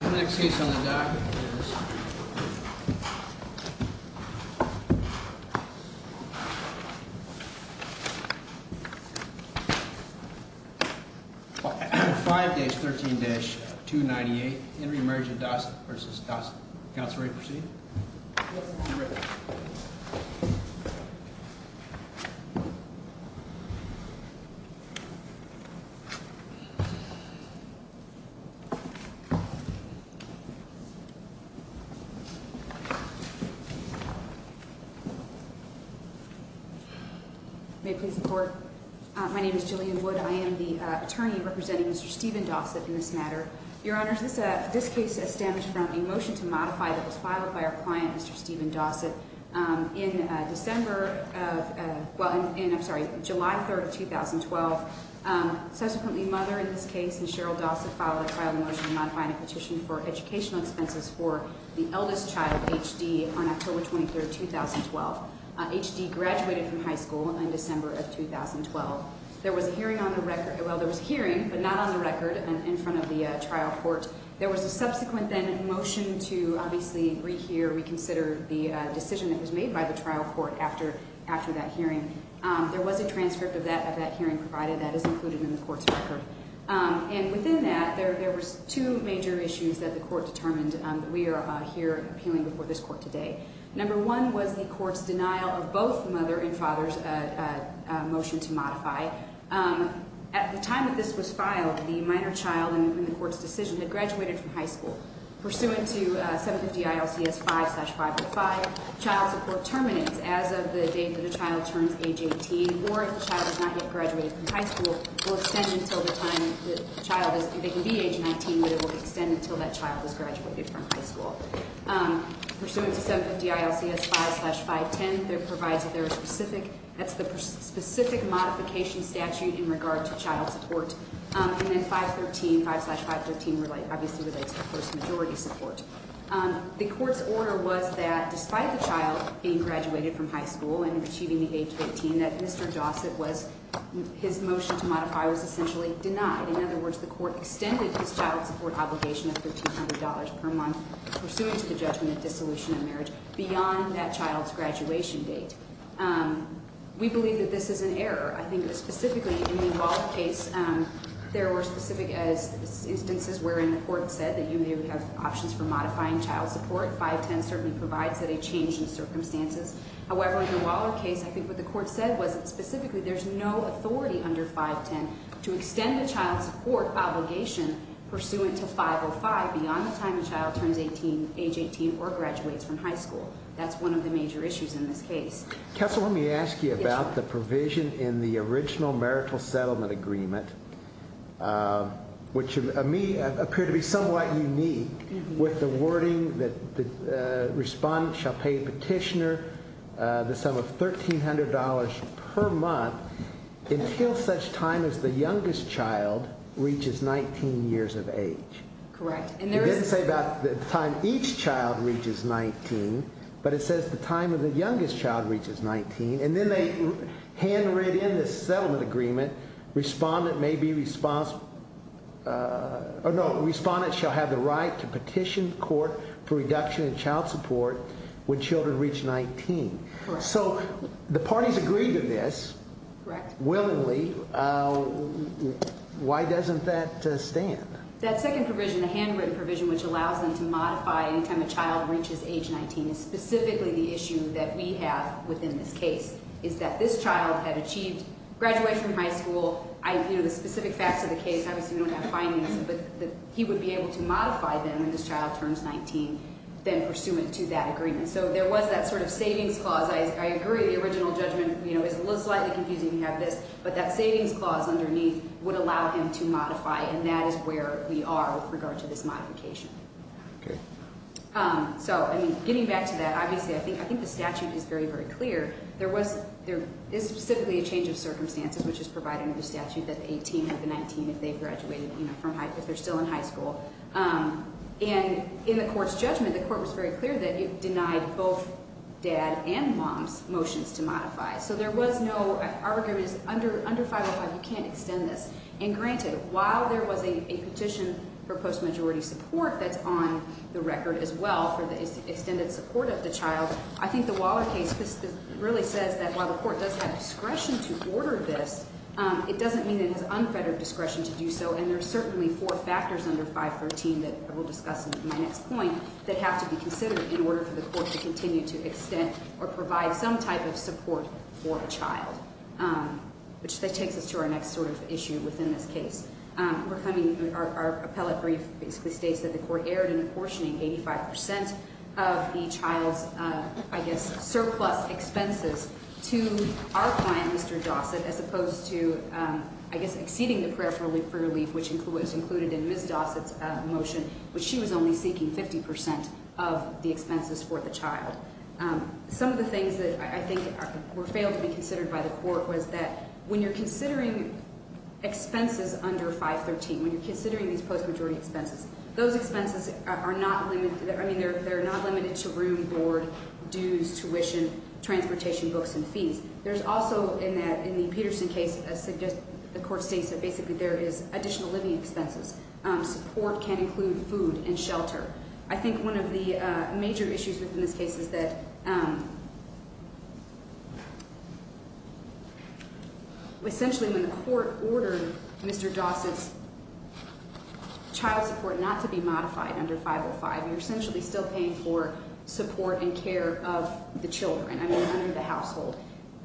Next case on the dock is 5-13-298 In re Marriage of Dossett v. Dossett. Counselor, you may proceed. My name is Jillian Wood. I am the attorney representing Mr. Stephen Dossett in this matter. Your Honor, this case stems from a motion to modify that was filed by our client, Mr. Stephen Dossett, in July 3, 2012. Subsequently, Mother in this case and Cheryl Dossett filed a trial motion to modify the petition for educational expenses for the eldest child, H.D., on October 23, 2012. H.D. graduated from high school in December of 2012. There was a hearing on the record. Well, there was a hearing, but not on the record, in front of the trial court. There was a subsequent then motion to obviously rehear, reconsider the decision that was made by the trial court after that hearing. There was a transcript of that hearing provided. That is included in the court's record. And within that, there were two major issues that the court determined that we are here appealing before this court today. Number one was the court's denial of both Mother and Father's motion to modify. At the time that this was filed, the minor child in the court's decision had graduated from high school. Pursuant to 750 ILCS 5-505, child support terminates as of the date that a child turns age 18, or if the child has not yet graduated from high school, will extend until the time that the child is, they can be age 19, but it will extend until that child has graduated from high school. Pursuant to 750 ILCS 5-510, there provides a very specific, that's the specific modification statute in regard to child support. And then 5-13, 5-513 obviously relates to post-majority support. The court's order was that despite the child being graduated from high school and achieving the age of 18, that Mr. Dossett was, his motion to modify was essentially denied. In other words, the court extended his child support obligation of $1,500 per month pursuant to the judgment of dissolution of marriage beyond that child's graduation date. We believe that this is an error. I think that specifically in the Waller case, there were specific instances wherein the court said that you may have options for modifying child support. 5-10 certainly provides that a change in circumstances. However, in the Waller case, I think what the court said was that specifically there's no authority under 5-10 to extend the child support obligation pursuant to 505 beyond the time the child turns age 18 or graduates from high school. That's one of the major issues in this case. Counsel, let me ask you about the provision in the original marital settlement agreement, which to me appeared to be somewhat unique with the wording that the respondent shall pay petitioner the sum of $1,300 per month until such time as the youngest child reaches 19 years of age. Correct. It didn't say about the time each child reaches 19, but it says the time of the youngest child reaches 19, and then they handwritten in this settlement agreement, respondent shall have the right to petition court for reduction in child support when children reach 19. Correct. So, the parties agreed to this. Correct. Willingly. Why doesn't that stand? That second provision, the handwritten provision, which allows them to modify any time a child reaches age 19, is specifically the issue that we have within this case, is that this child had achieved graduation from high school. You know, the specific facts of the case, obviously we don't have findings, but he would be able to modify them when this child turns 19, then pursuant to that agreement. And so, there was that sort of savings clause. I agree the original judgment, you know, is slightly confusing to have this, but that savings clause underneath would allow him to modify, and that is where we are with regard to this modification. Okay. So, I mean, getting back to that, obviously I think the statute is very, very clear. There is specifically a change of circumstances, which is provided under the statute that the 18 have the 19 if they've graduated, you know, if they're still in high school. And in the court's judgment, the court was very clear that it denied both dad and mom's motions to modify. So, there was no argument under 505, you can't extend this. And granted, while there was a petition for post-majority support that's on the record as well for the extended support of the child, I think the Waller case really says that while the court does have discretion to order this, it doesn't mean it has unfettered discretion to do so. And there are certainly four factors under 513 that I will discuss in my next point that have to be considered in order for the court to continue to extend or provide some type of support for a child, which takes us to our next sort of issue within this case. Our appellate brief basically states that the court erred in apportioning 85% of the child's, I guess, surplus expenses to our client, Mr. Dossett, as opposed to, I guess, exceeding the prayer for relief, which was included in Ms. Dossett's motion, which she was only seeking 50% of the expenses for the child. Some of the things that I think were failed to be considered by the court was that when you're considering expenses under 513, when you're considering these post-majority expenses, those expenses are not, I mean, they're not limited to room, board, dues, tuition, transportation, books, and fees. There's also, in the Peterson case, the court states that basically there is additional living expenses. Support can include food and shelter. I think one of the major issues within this case is that essentially when the court ordered Mr. Dossett's child support not to be modified under 505, you're essentially still paying for support and care of the children, I mean, under the household.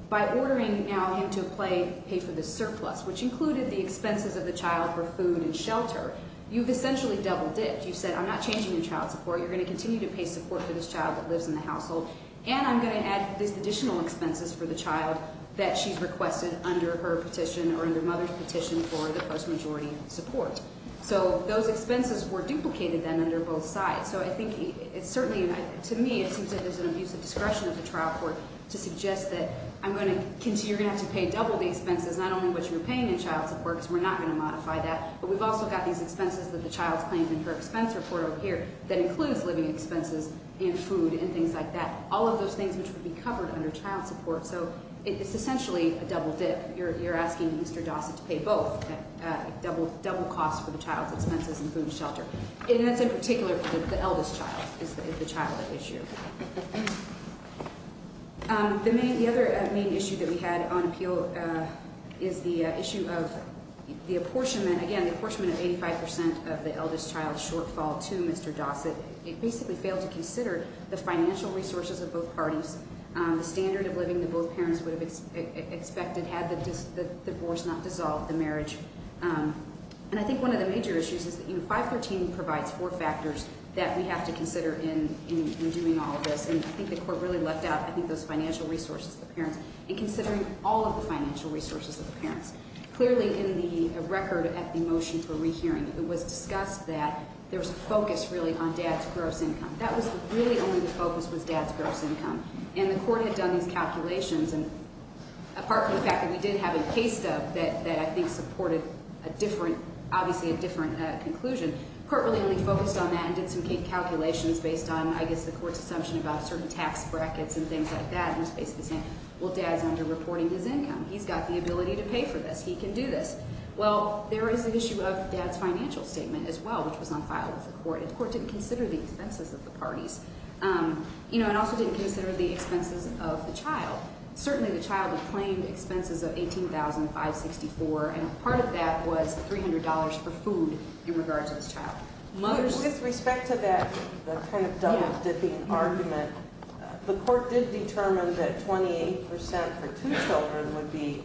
By ordering now him to pay for the surplus, which included the expenses of the child for food and shelter, you've essentially double dipped. You've said, I'm not changing your child support. You're going to continue to pay support for this child that lives in the household, and I'm going to add these additional expenses for the child that she's requested under her petition or under Mother's petition for the post-majority support. So those expenses were duplicated then under both sides. So I think it's certainly, to me, it seems like there's an abuse of discretion of the trial court to suggest that I'm going to, you're going to have to pay double the expenses, not only what you're paying in child support because we're not going to modify that. But we've also got these expenses that the child's claimed in her expense report over here that includes living expenses and food and things like that, all of those things which would be covered under child support. So it's essentially a double dip. You're asking Mr. Dossett to pay both, double costs for the child's expenses and food and shelter. And that's in particular for the eldest child is the childhood issue. The other main issue that we had on appeal is the issue of the apportionment, again, the apportionment of 85% of the eldest child's shortfall to Mr. Dossett. It basically failed to consider the financial resources of both parties, the standard of living that both parents would have expected had the divorce not dissolved, the marriage. And I think one of the major issues is that, you know, 513 provides four factors that we have to consider in doing all of this. And I think the court really left out, I think, those financial resources of the parents and considering all of the financial resources of the parents. Clearly in the record at the motion for rehearing, it was discussed that there was a focus really on dad's gross income. That was really only the focus was dad's gross income. And the court had done these calculations. And apart from the fact that we did have a case stub that I think supported a different, obviously a different conclusion, the court really only focused on that and did some calculations based on, I guess, the court's assumption about certain tax brackets and things like that. And it's basically saying, well, dad's under-reporting his income. He's got the ability to pay for this. He can do this. Well, there is the issue of dad's financial statement as well, which was on file with the court. The court didn't consider the expenses of the parties and also didn't consider the expenses of the child. Certainly the child had claimed expenses of $18,564. And part of that was $300 for food in regard to this child. With respect to that kind of double-dipping argument, the court did determine that 28% for two children would be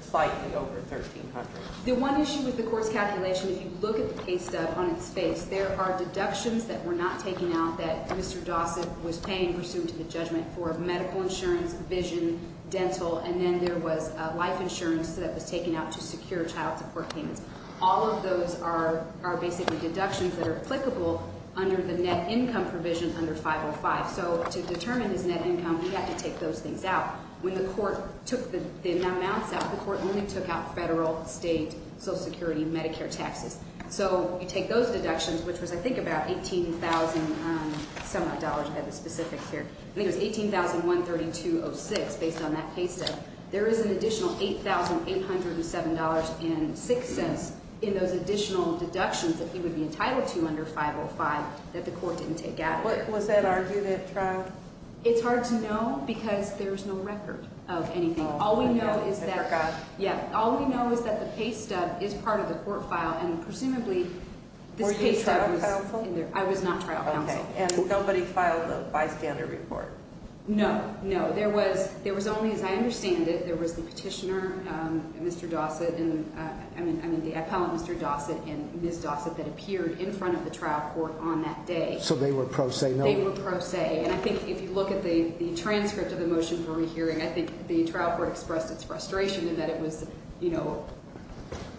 slightly over $1,300. The one issue with the court's calculation, if you look at the case stub on its face, there are deductions that were not taken out that Mr. Dossett was paying, pursuant to the judgment, for medical insurance, vision, dental, and then there was life insurance that was taken out to secure child support payments. All of those are basically deductions that are applicable under the net income provision under 505. So to determine his net income, we had to take those things out. When the court took the amounts out, the court only took out federal, state, Social Security, Medicare taxes. So you take those deductions, which was I think about $18,000-some-odd, I have the specifics here. I think it was $18,132.06 based on that case stub. There is an additional $8,807.06 in those additional deductions that he would be entitled to under 505 that the court didn't take out. Was that argued at trial? It's hard to know because there's no record of anything. All we know is that the case stub is part of the court file, and presumably this case stub was in there. Were you a trial counsel? I was not trial counsel. And somebody filed a bystander report? No, no. There was only, as I understand it, there was the petitioner, Mr. Dossett, I mean the appellant, Mr. Dossett, and Ms. Dossett that appeared in front of the trial court on that day. So they were pro se? They were pro se. And I think if you look at the transcript of the motion for rehearing, I think the trial court expressed its frustration in that it was, you know,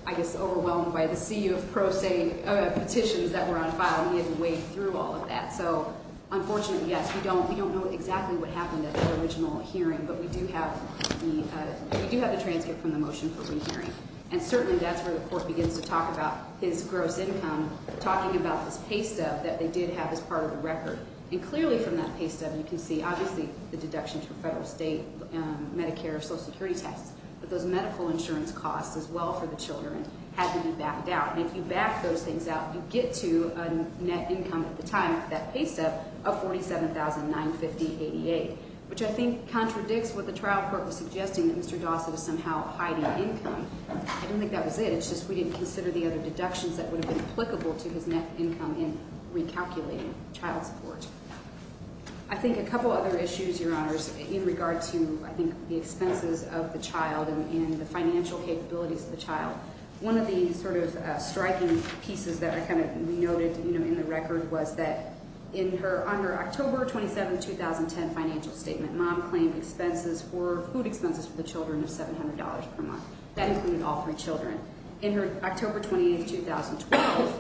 I guess overwhelmed by the sea of pro se petitions that were on file, and he had to wade through all of that. So unfortunately, yes, we don't know exactly what happened at that original hearing, but we do have the transcript from the motion for rehearing. And certainly that's where the court begins to talk about his gross income, talking about this pay stub that they did have as part of the record. And clearly from that pay stub, you can see obviously the deductions from federal, state, Medicare, Social Security taxes, but those medical insurance costs as well for the children had been backed out. And if you back those things out, you get to a net income at the time of that pay stub of $47,950.88, which I think contradicts what the trial court was suggesting, that Mr. Dossett is somehow hiding income. I don't think that was it. It's just we didn't consider the other deductions that would have been applicable to his net income in recalculating child support. I think a couple other issues, Your Honors, in regard to, I think, the expenses of the child and the financial capabilities of the child, one of the sort of striking pieces that I kind of noted in the record was that on her October 27, 2010 financial statement, mom claimed food expenses for the children of $700 per month. That included all three children. In her October 28, 2012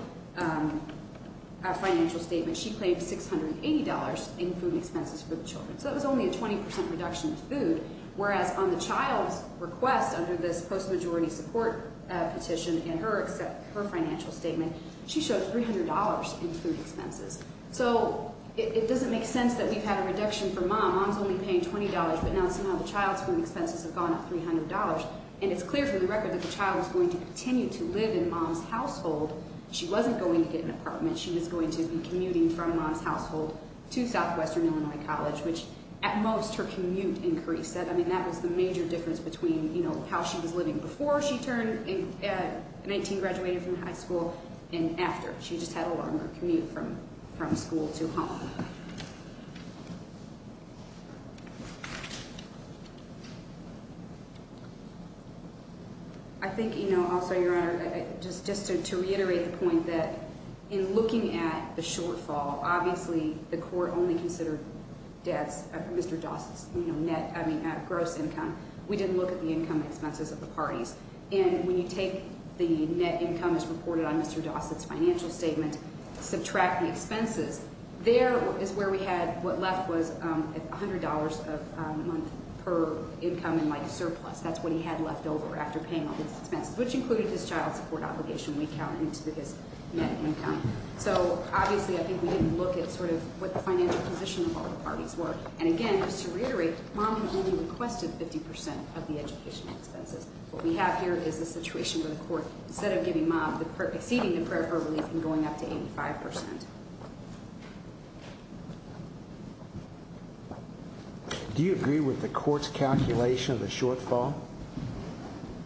financial statement, she claimed $680 in food expenses for the children. So that was only a 20% reduction in food, whereas on the child's request under this post-majority support petition in her financial statement, she showed $300 in food expenses. So it doesn't make sense that we've had a reduction for mom. Mom's only paying $20, but now somehow the child's food expenses have gone up $300. And it's clear from the record that the child was going to continue to live in mom's household. She wasn't going to get an apartment. She was going to be commuting from mom's household to Southwestern Illinois College, which at most her commute increased. I mean, that was the major difference between, you know, how she was living before she turned 19, graduated from high school, and after. She just had a longer commute from school to home. I think, you know, also, Your Honor, just to reiterate the point that in looking at the shortfall, obviously the court only considered Mr. Dossett's net gross income. We didn't look at the income expenses of the parties. And when you take the net income as reported on Mr. Dossett's financial statement, subtract the expenses, there is where we had what left was $100 a month per income in, like, surplus. That's what he had left over after paying all his expenses, which included his child support obligation when we counted into his net income. So, obviously, I think we didn't look at sort of what the financial position of all the parties were. And, again, just to reiterate, mom had only requested 50% of the education expenses. What we have here is the situation where the court, instead of giving mom exceeding the prayer for relief and going up to 85%. Do you agree with the court's calculation of the shortfall?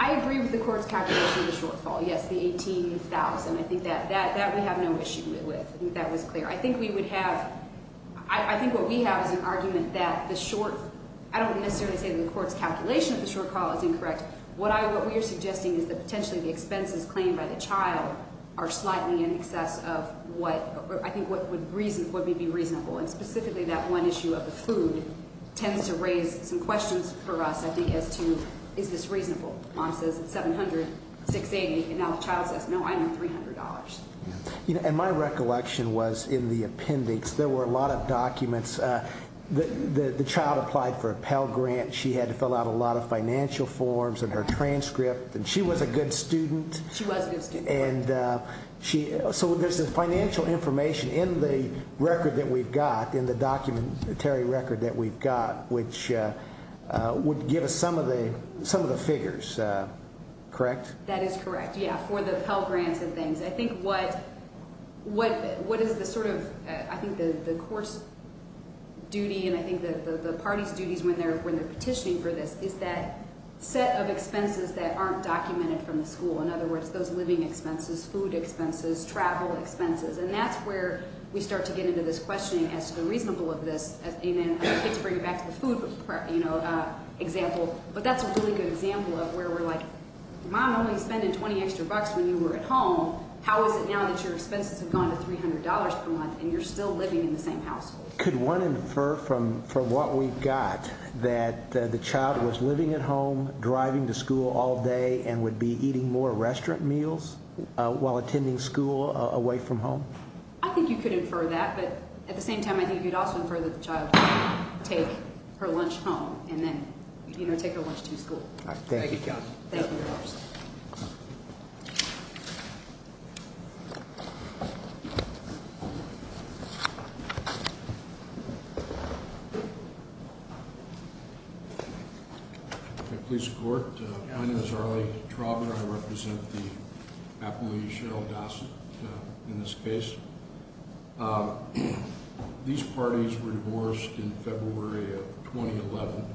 I agree with the court's calculation of the shortfall, yes, the $18,000. I think that we have no issue with. I think that was clear. I think we would have, I think what we have is an argument that the short, I don't necessarily say that the court's calculation of the shortfall is incorrect. What we are suggesting is that potentially the expenses claimed by the child are slightly in excess of what I think would be reasonable. And, specifically, that one issue of the food tends to raise some questions for us, I think, as to is this reasonable. Mom says it's $700, $680, and now the child says, no, I need $300. And my recollection was in the appendix there were a lot of documents. The child applied for a Pell Grant. She had to fill out a lot of financial forms and her transcript, and she was a good student. She was a good student. And so there's this financial information in the record that we've got, in the documentary record that we've got, which would give us some of the figures, correct? That is correct, yeah, for the Pell Grants and things. I think what is the sort of, I think the court's duty and I think the party's duties when they're petitioning for this is that set of expenses that aren't documented from the school. In other words, those living expenses, food expenses, travel expenses. And that's where we start to get into this questioning as to the reasonable of this. And then the kids bring it back to the food, you know, example. But that's a really good example of where we're like, mom only spending 20 extra bucks when you were at home. How is it now that your expenses have gone to $300 per month and you're still living in the same household? Could one infer from what we've got that the child was living at home, driving to school all day, and would be eating more restaurant meals while attending school away from home? I think you could infer that. But at the same time, I think you'd also infer that the child would take her lunch home and then, you know, take her lunch to school. Thank you, counsel. Thank you. Thank you. Police court. My name is Arlie Traubner. I represent the appellee, Cheryl Dawson, in this case. These parties were divorced in February of 2011.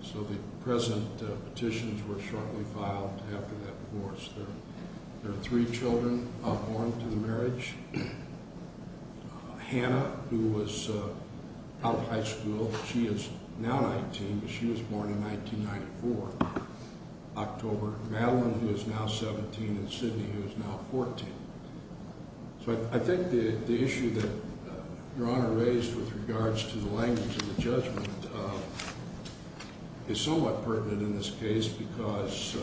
So the present petitions were shortly filed after that divorce. There are three children born to the marriage. Hannah, who was out of high school, she is now 19, but she was born in 1994, October. Madeline, who is now 17, and Sidney, who is now 14. So I think the issue that Your Honor raised with regards to the language of the judgment is somewhat pertinent in this case because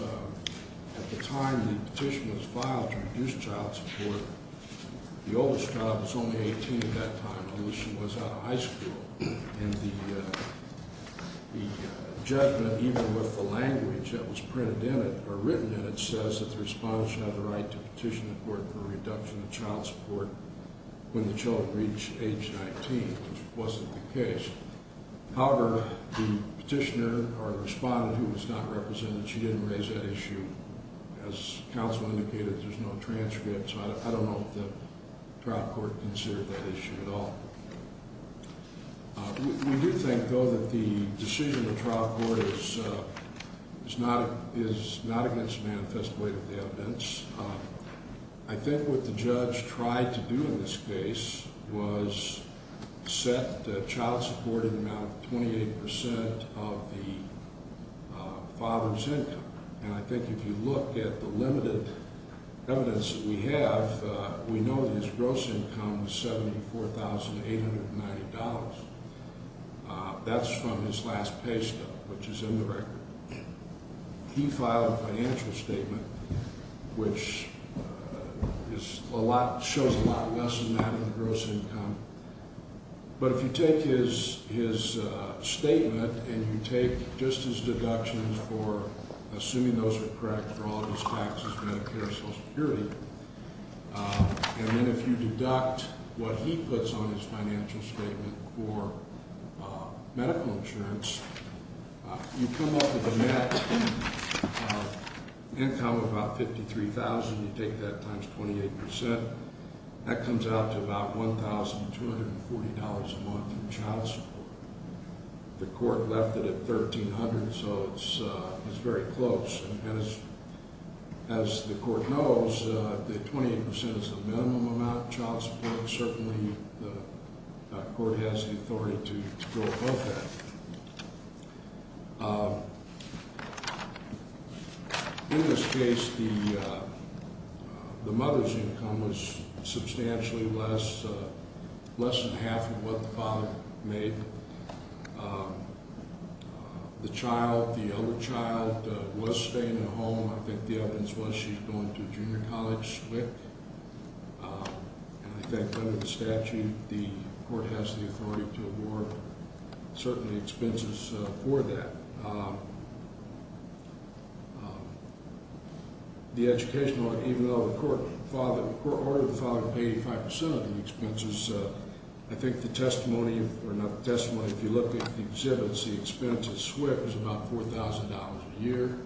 at the time the petition was filed to reduce child support, the oldest child was only 18 at that time. And the judgment, even with the language that was printed in it or written in it, says that the respondent should have the right to petition the court for a reduction of child support when the children reach age 19, which wasn't the case. However, the petitioner or the respondent who was not represented, she didn't raise that issue. As counsel indicated, there's no transcript. So I don't know if the trial court considered that issue at all. We do think, though, that the decision of the trial court is not against the manifest weight of the evidence. I think what the judge tried to do in this case was set the child support in the amount of 28% of the father's income. And I think if you look at the limited evidence that we have, we know that his gross income was $74,890. That's from his last pay stub, which is in the record. He filed a financial statement, which is a lot, shows a lot less than that in the gross income. But if you take his statement and you take just his deductions for assuming those are correct for all of his taxes, Medicare, Social Security, and then if you deduct what he puts on his financial statement for medical insurance, you come up with a net income of about $53,000. You take that times 28%. That comes out to about $1,240 a month in child support. The court left it at $1,300, so it's very close. And as the court knows, the 28% is the minimum amount of child support, and certainly the court has the authority to go above that. In this case, the mother's income was substantially less, less than half of what the father made. The child, the elder child, was staying at home. I think the evidence was she's going to a junior college, SWCC. And I think under the statute, the court has the authority to award certain expenses for that. The educational, even though the court ordered the father to pay 85% of the expenses, I think the testimony, or not the testimony, if you look at the exhibits, the expense at SWCC was about $4,000 a year.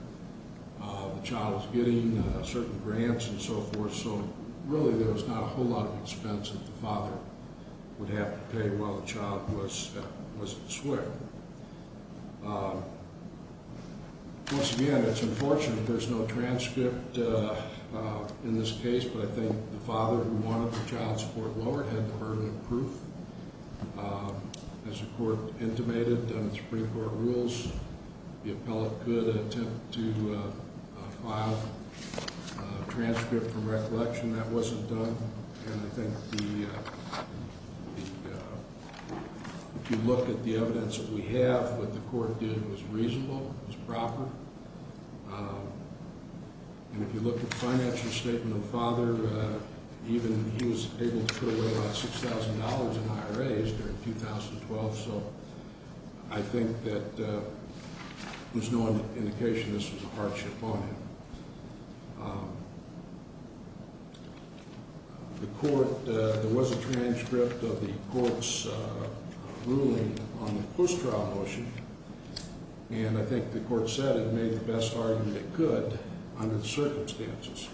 The child was getting certain grants and so forth, so really there was not a whole lot of expense that the father would have to pay while the child was at SWCC. Once again, it's unfortunate there's no transcript in this case, but I think the father who wanted the child support lower had the burden of proof. As the court intimated under the Supreme Court rules, the appellate could attempt to file a transcript for recollection. That wasn't done, and I think if you look at the evidence that we have, what the court did was reasonable, was proper. And if you look at the financial statement of the father, even he was able to put away about $6,000 in IRAs during 2012, so I think that there's no indication this was a hardship on him. The court, there was a transcript of the court's ruling on the post-trial motion, and I think the court said it made the best argument it could under the circumstances.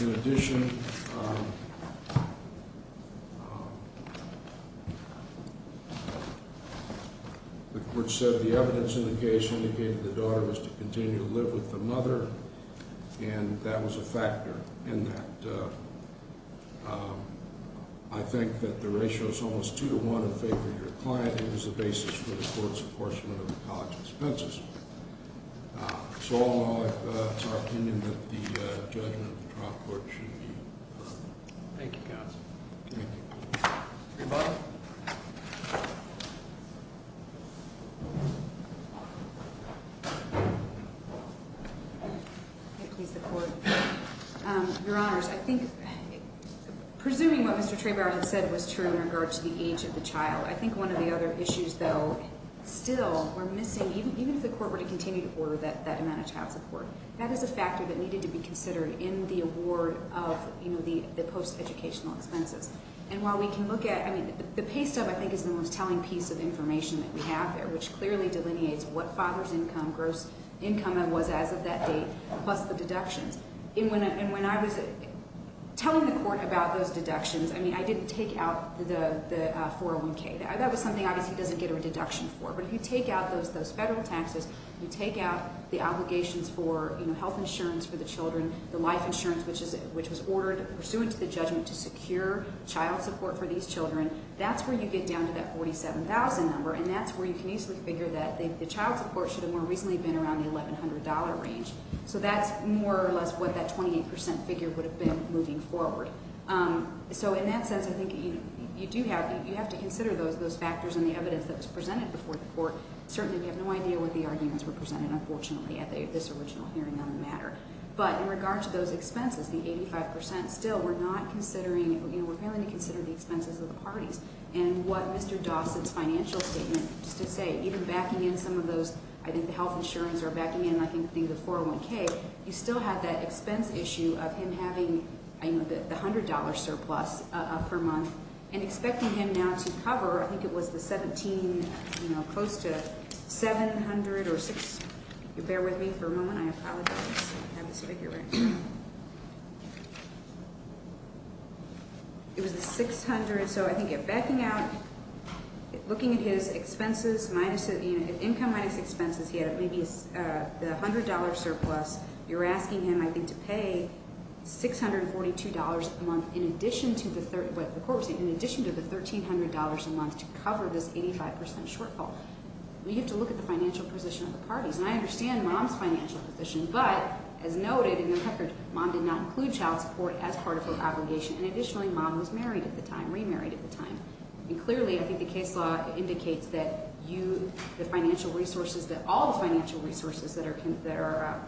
In addition, the court said the evidence in the case indicated the daughter was to continue to live with the mother, and that was a factor in that. I think that the ratio is almost 2 to 1 in favor of your client, and it was the basis for the court's apportionment of the college expenses. So all in all, it's our opinion that the judgment of the trial court should be deferred. Thank you, counsel. Thank you. Traybauer? May it please the Court. Your Honors, I think, presuming what Mr. Traybauer had said was true in regard to the age of the child, I think one of the other issues, though, still we're missing, even if the court were to continue to order that amount of child support, that is a factor that needed to be considered in the award of the post-educational expenses. And while we can look at, I mean, the pay stub, I think, is the most telling piece of information that we have there, which clearly delineates what father's income, gross income, was as of that date, plus the deductions. And when I was telling the court about those deductions, I mean, I didn't take out the 401K. That was something, obviously, he doesn't get a deduction for. But if you take out those federal taxes, you take out the obligations for health insurance for the children, the life insurance, which was ordered pursuant to the judgment to secure child support for these children, that's where you get down to that $47,000 number, and that's where you can easily figure that the child support should have more recently been around the $1,100 range. So that's more or less what that 28% figure would have been moving forward. So in that sense, I think you do have to consider those factors in the evidence that was presented before the court. Certainly, we have no idea what the arguments were presented, unfortunately, at this original hearing on the matter. But in regard to those expenses, the 85% still, we're not considering, you know, we're failing to consider the expenses of the parties. And what Mr. Dawson's financial statement, just to say, even backing in some of those, I think the health insurance or backing in, I think, the 401K, you still have that expense issue of him having, you know, the $100 surplus per month and expecting him now to cover, I think it was the 17, you know, close to 700 or 600, bear with me for a moment. I apologize. I have this figure right here. It was the 600, so I think backing out, looking at his expenses, income minus expenses, he had maybe the $100 surplus. You're asking him, I think, to pay $642 a month in addition to the, what the court was saying, in addition to the $1,300 a month to cover this 85% shortfall. We have to look at the financial position of the parties. And I understand mom's financial position, but as noted in the record, mom did not include child support as part of her obligation. And additionally, mom was married at the time, remarried at the time. And clearly, I think the case law indicates that you, the financial resources, that all the financial resources that are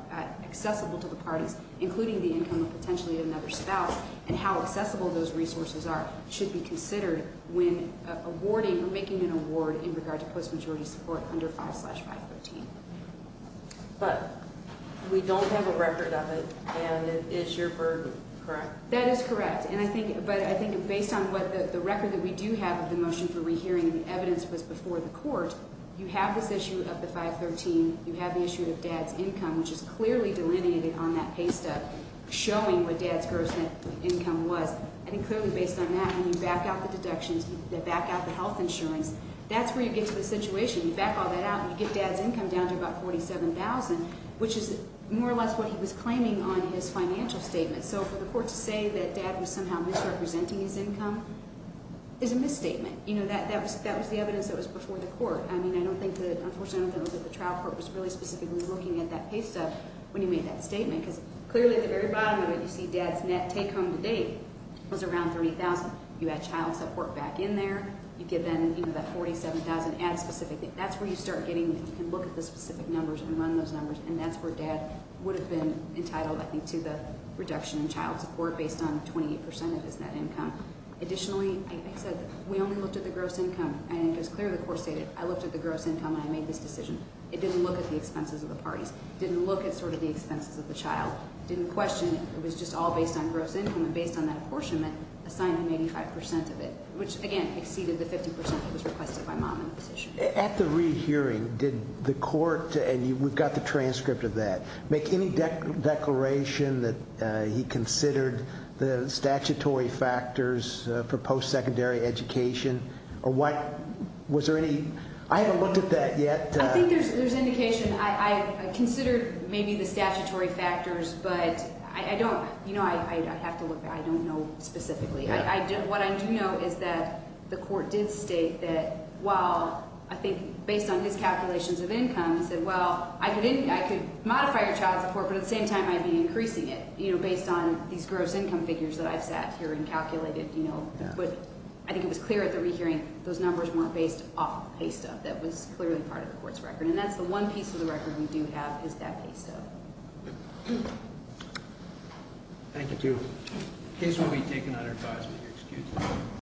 accessible to the parties, including the income of potentially another spouse, and how accessible those resources are, should be considered when awarding or making an award in regard to post-majority support under 5-513. But we don't have a record of it, and it is your burden, correct? That is correct. And I think, but I think based on what the record that we do have of the motion for rehearing and the evidence was before the court, you have this issue of the 513. You have the issue of dad's income, which is clearly delineated on that pay stub, showing what dad's gross income was. So I think clearly based on that, when you back out the deductions, you back out the health insurance, that's where you get to the situation. You back all that out, and you get dad's income down to about $47,000, which is more or less what he was claiming on his financial statement. So for the court to say that dad was somehow misrepresenting his income is a misstatement. You know, that was the evidence that was before the court. I mean, I don't think that, unfortunately, I don't think that the trial court was really specifically looking at that pay stub when he made that statement. Because clearly at the very bottom of it, you see dad's net take home to date was around $30,000. You add child support back in there. You give them even that $47,000. Add specifically. That's where you start getting and look at the specific numbers and run those numbers. And that's where dad would have been entitled, I think, to the reduction in child support based on 28% of his net income. Additionally, like I said, we only looked at the gross income. And as clearly the court stated, I looked at the gross income, and I made this decision. It didn't look at the expenses of the parties. It didn't look at sort of the expenses of the child. It didn't question. It was just all based on gross income. And based on that apportionment, assigned him 85% of it, which, again, exceeded the 50% that was requested by mom in the petition. At the re-hearing, did the court, and we've got the transcript of that, make any declaration that he considered the statutory factors for post-secondary education? Or was there any? I haven't looked at that yet. I think there's indication. I considered maybe the statutory factors, but I don't, you know, I have to look. I don't know specifically. What I do know is that the court did state that, well, I think based on his calculations of income, said, well, I could modify your child support. But at the same time, I'd be increasing it, you know, based on these gross income figures that I've sat here and calculated. But I think it was clear at the re-hearing those numbers weren't based off pay stuff that was clearly part of the court's record. And that's the one piece of the record we do have is that pay stuff. Thank you. The case will be taken under advisory.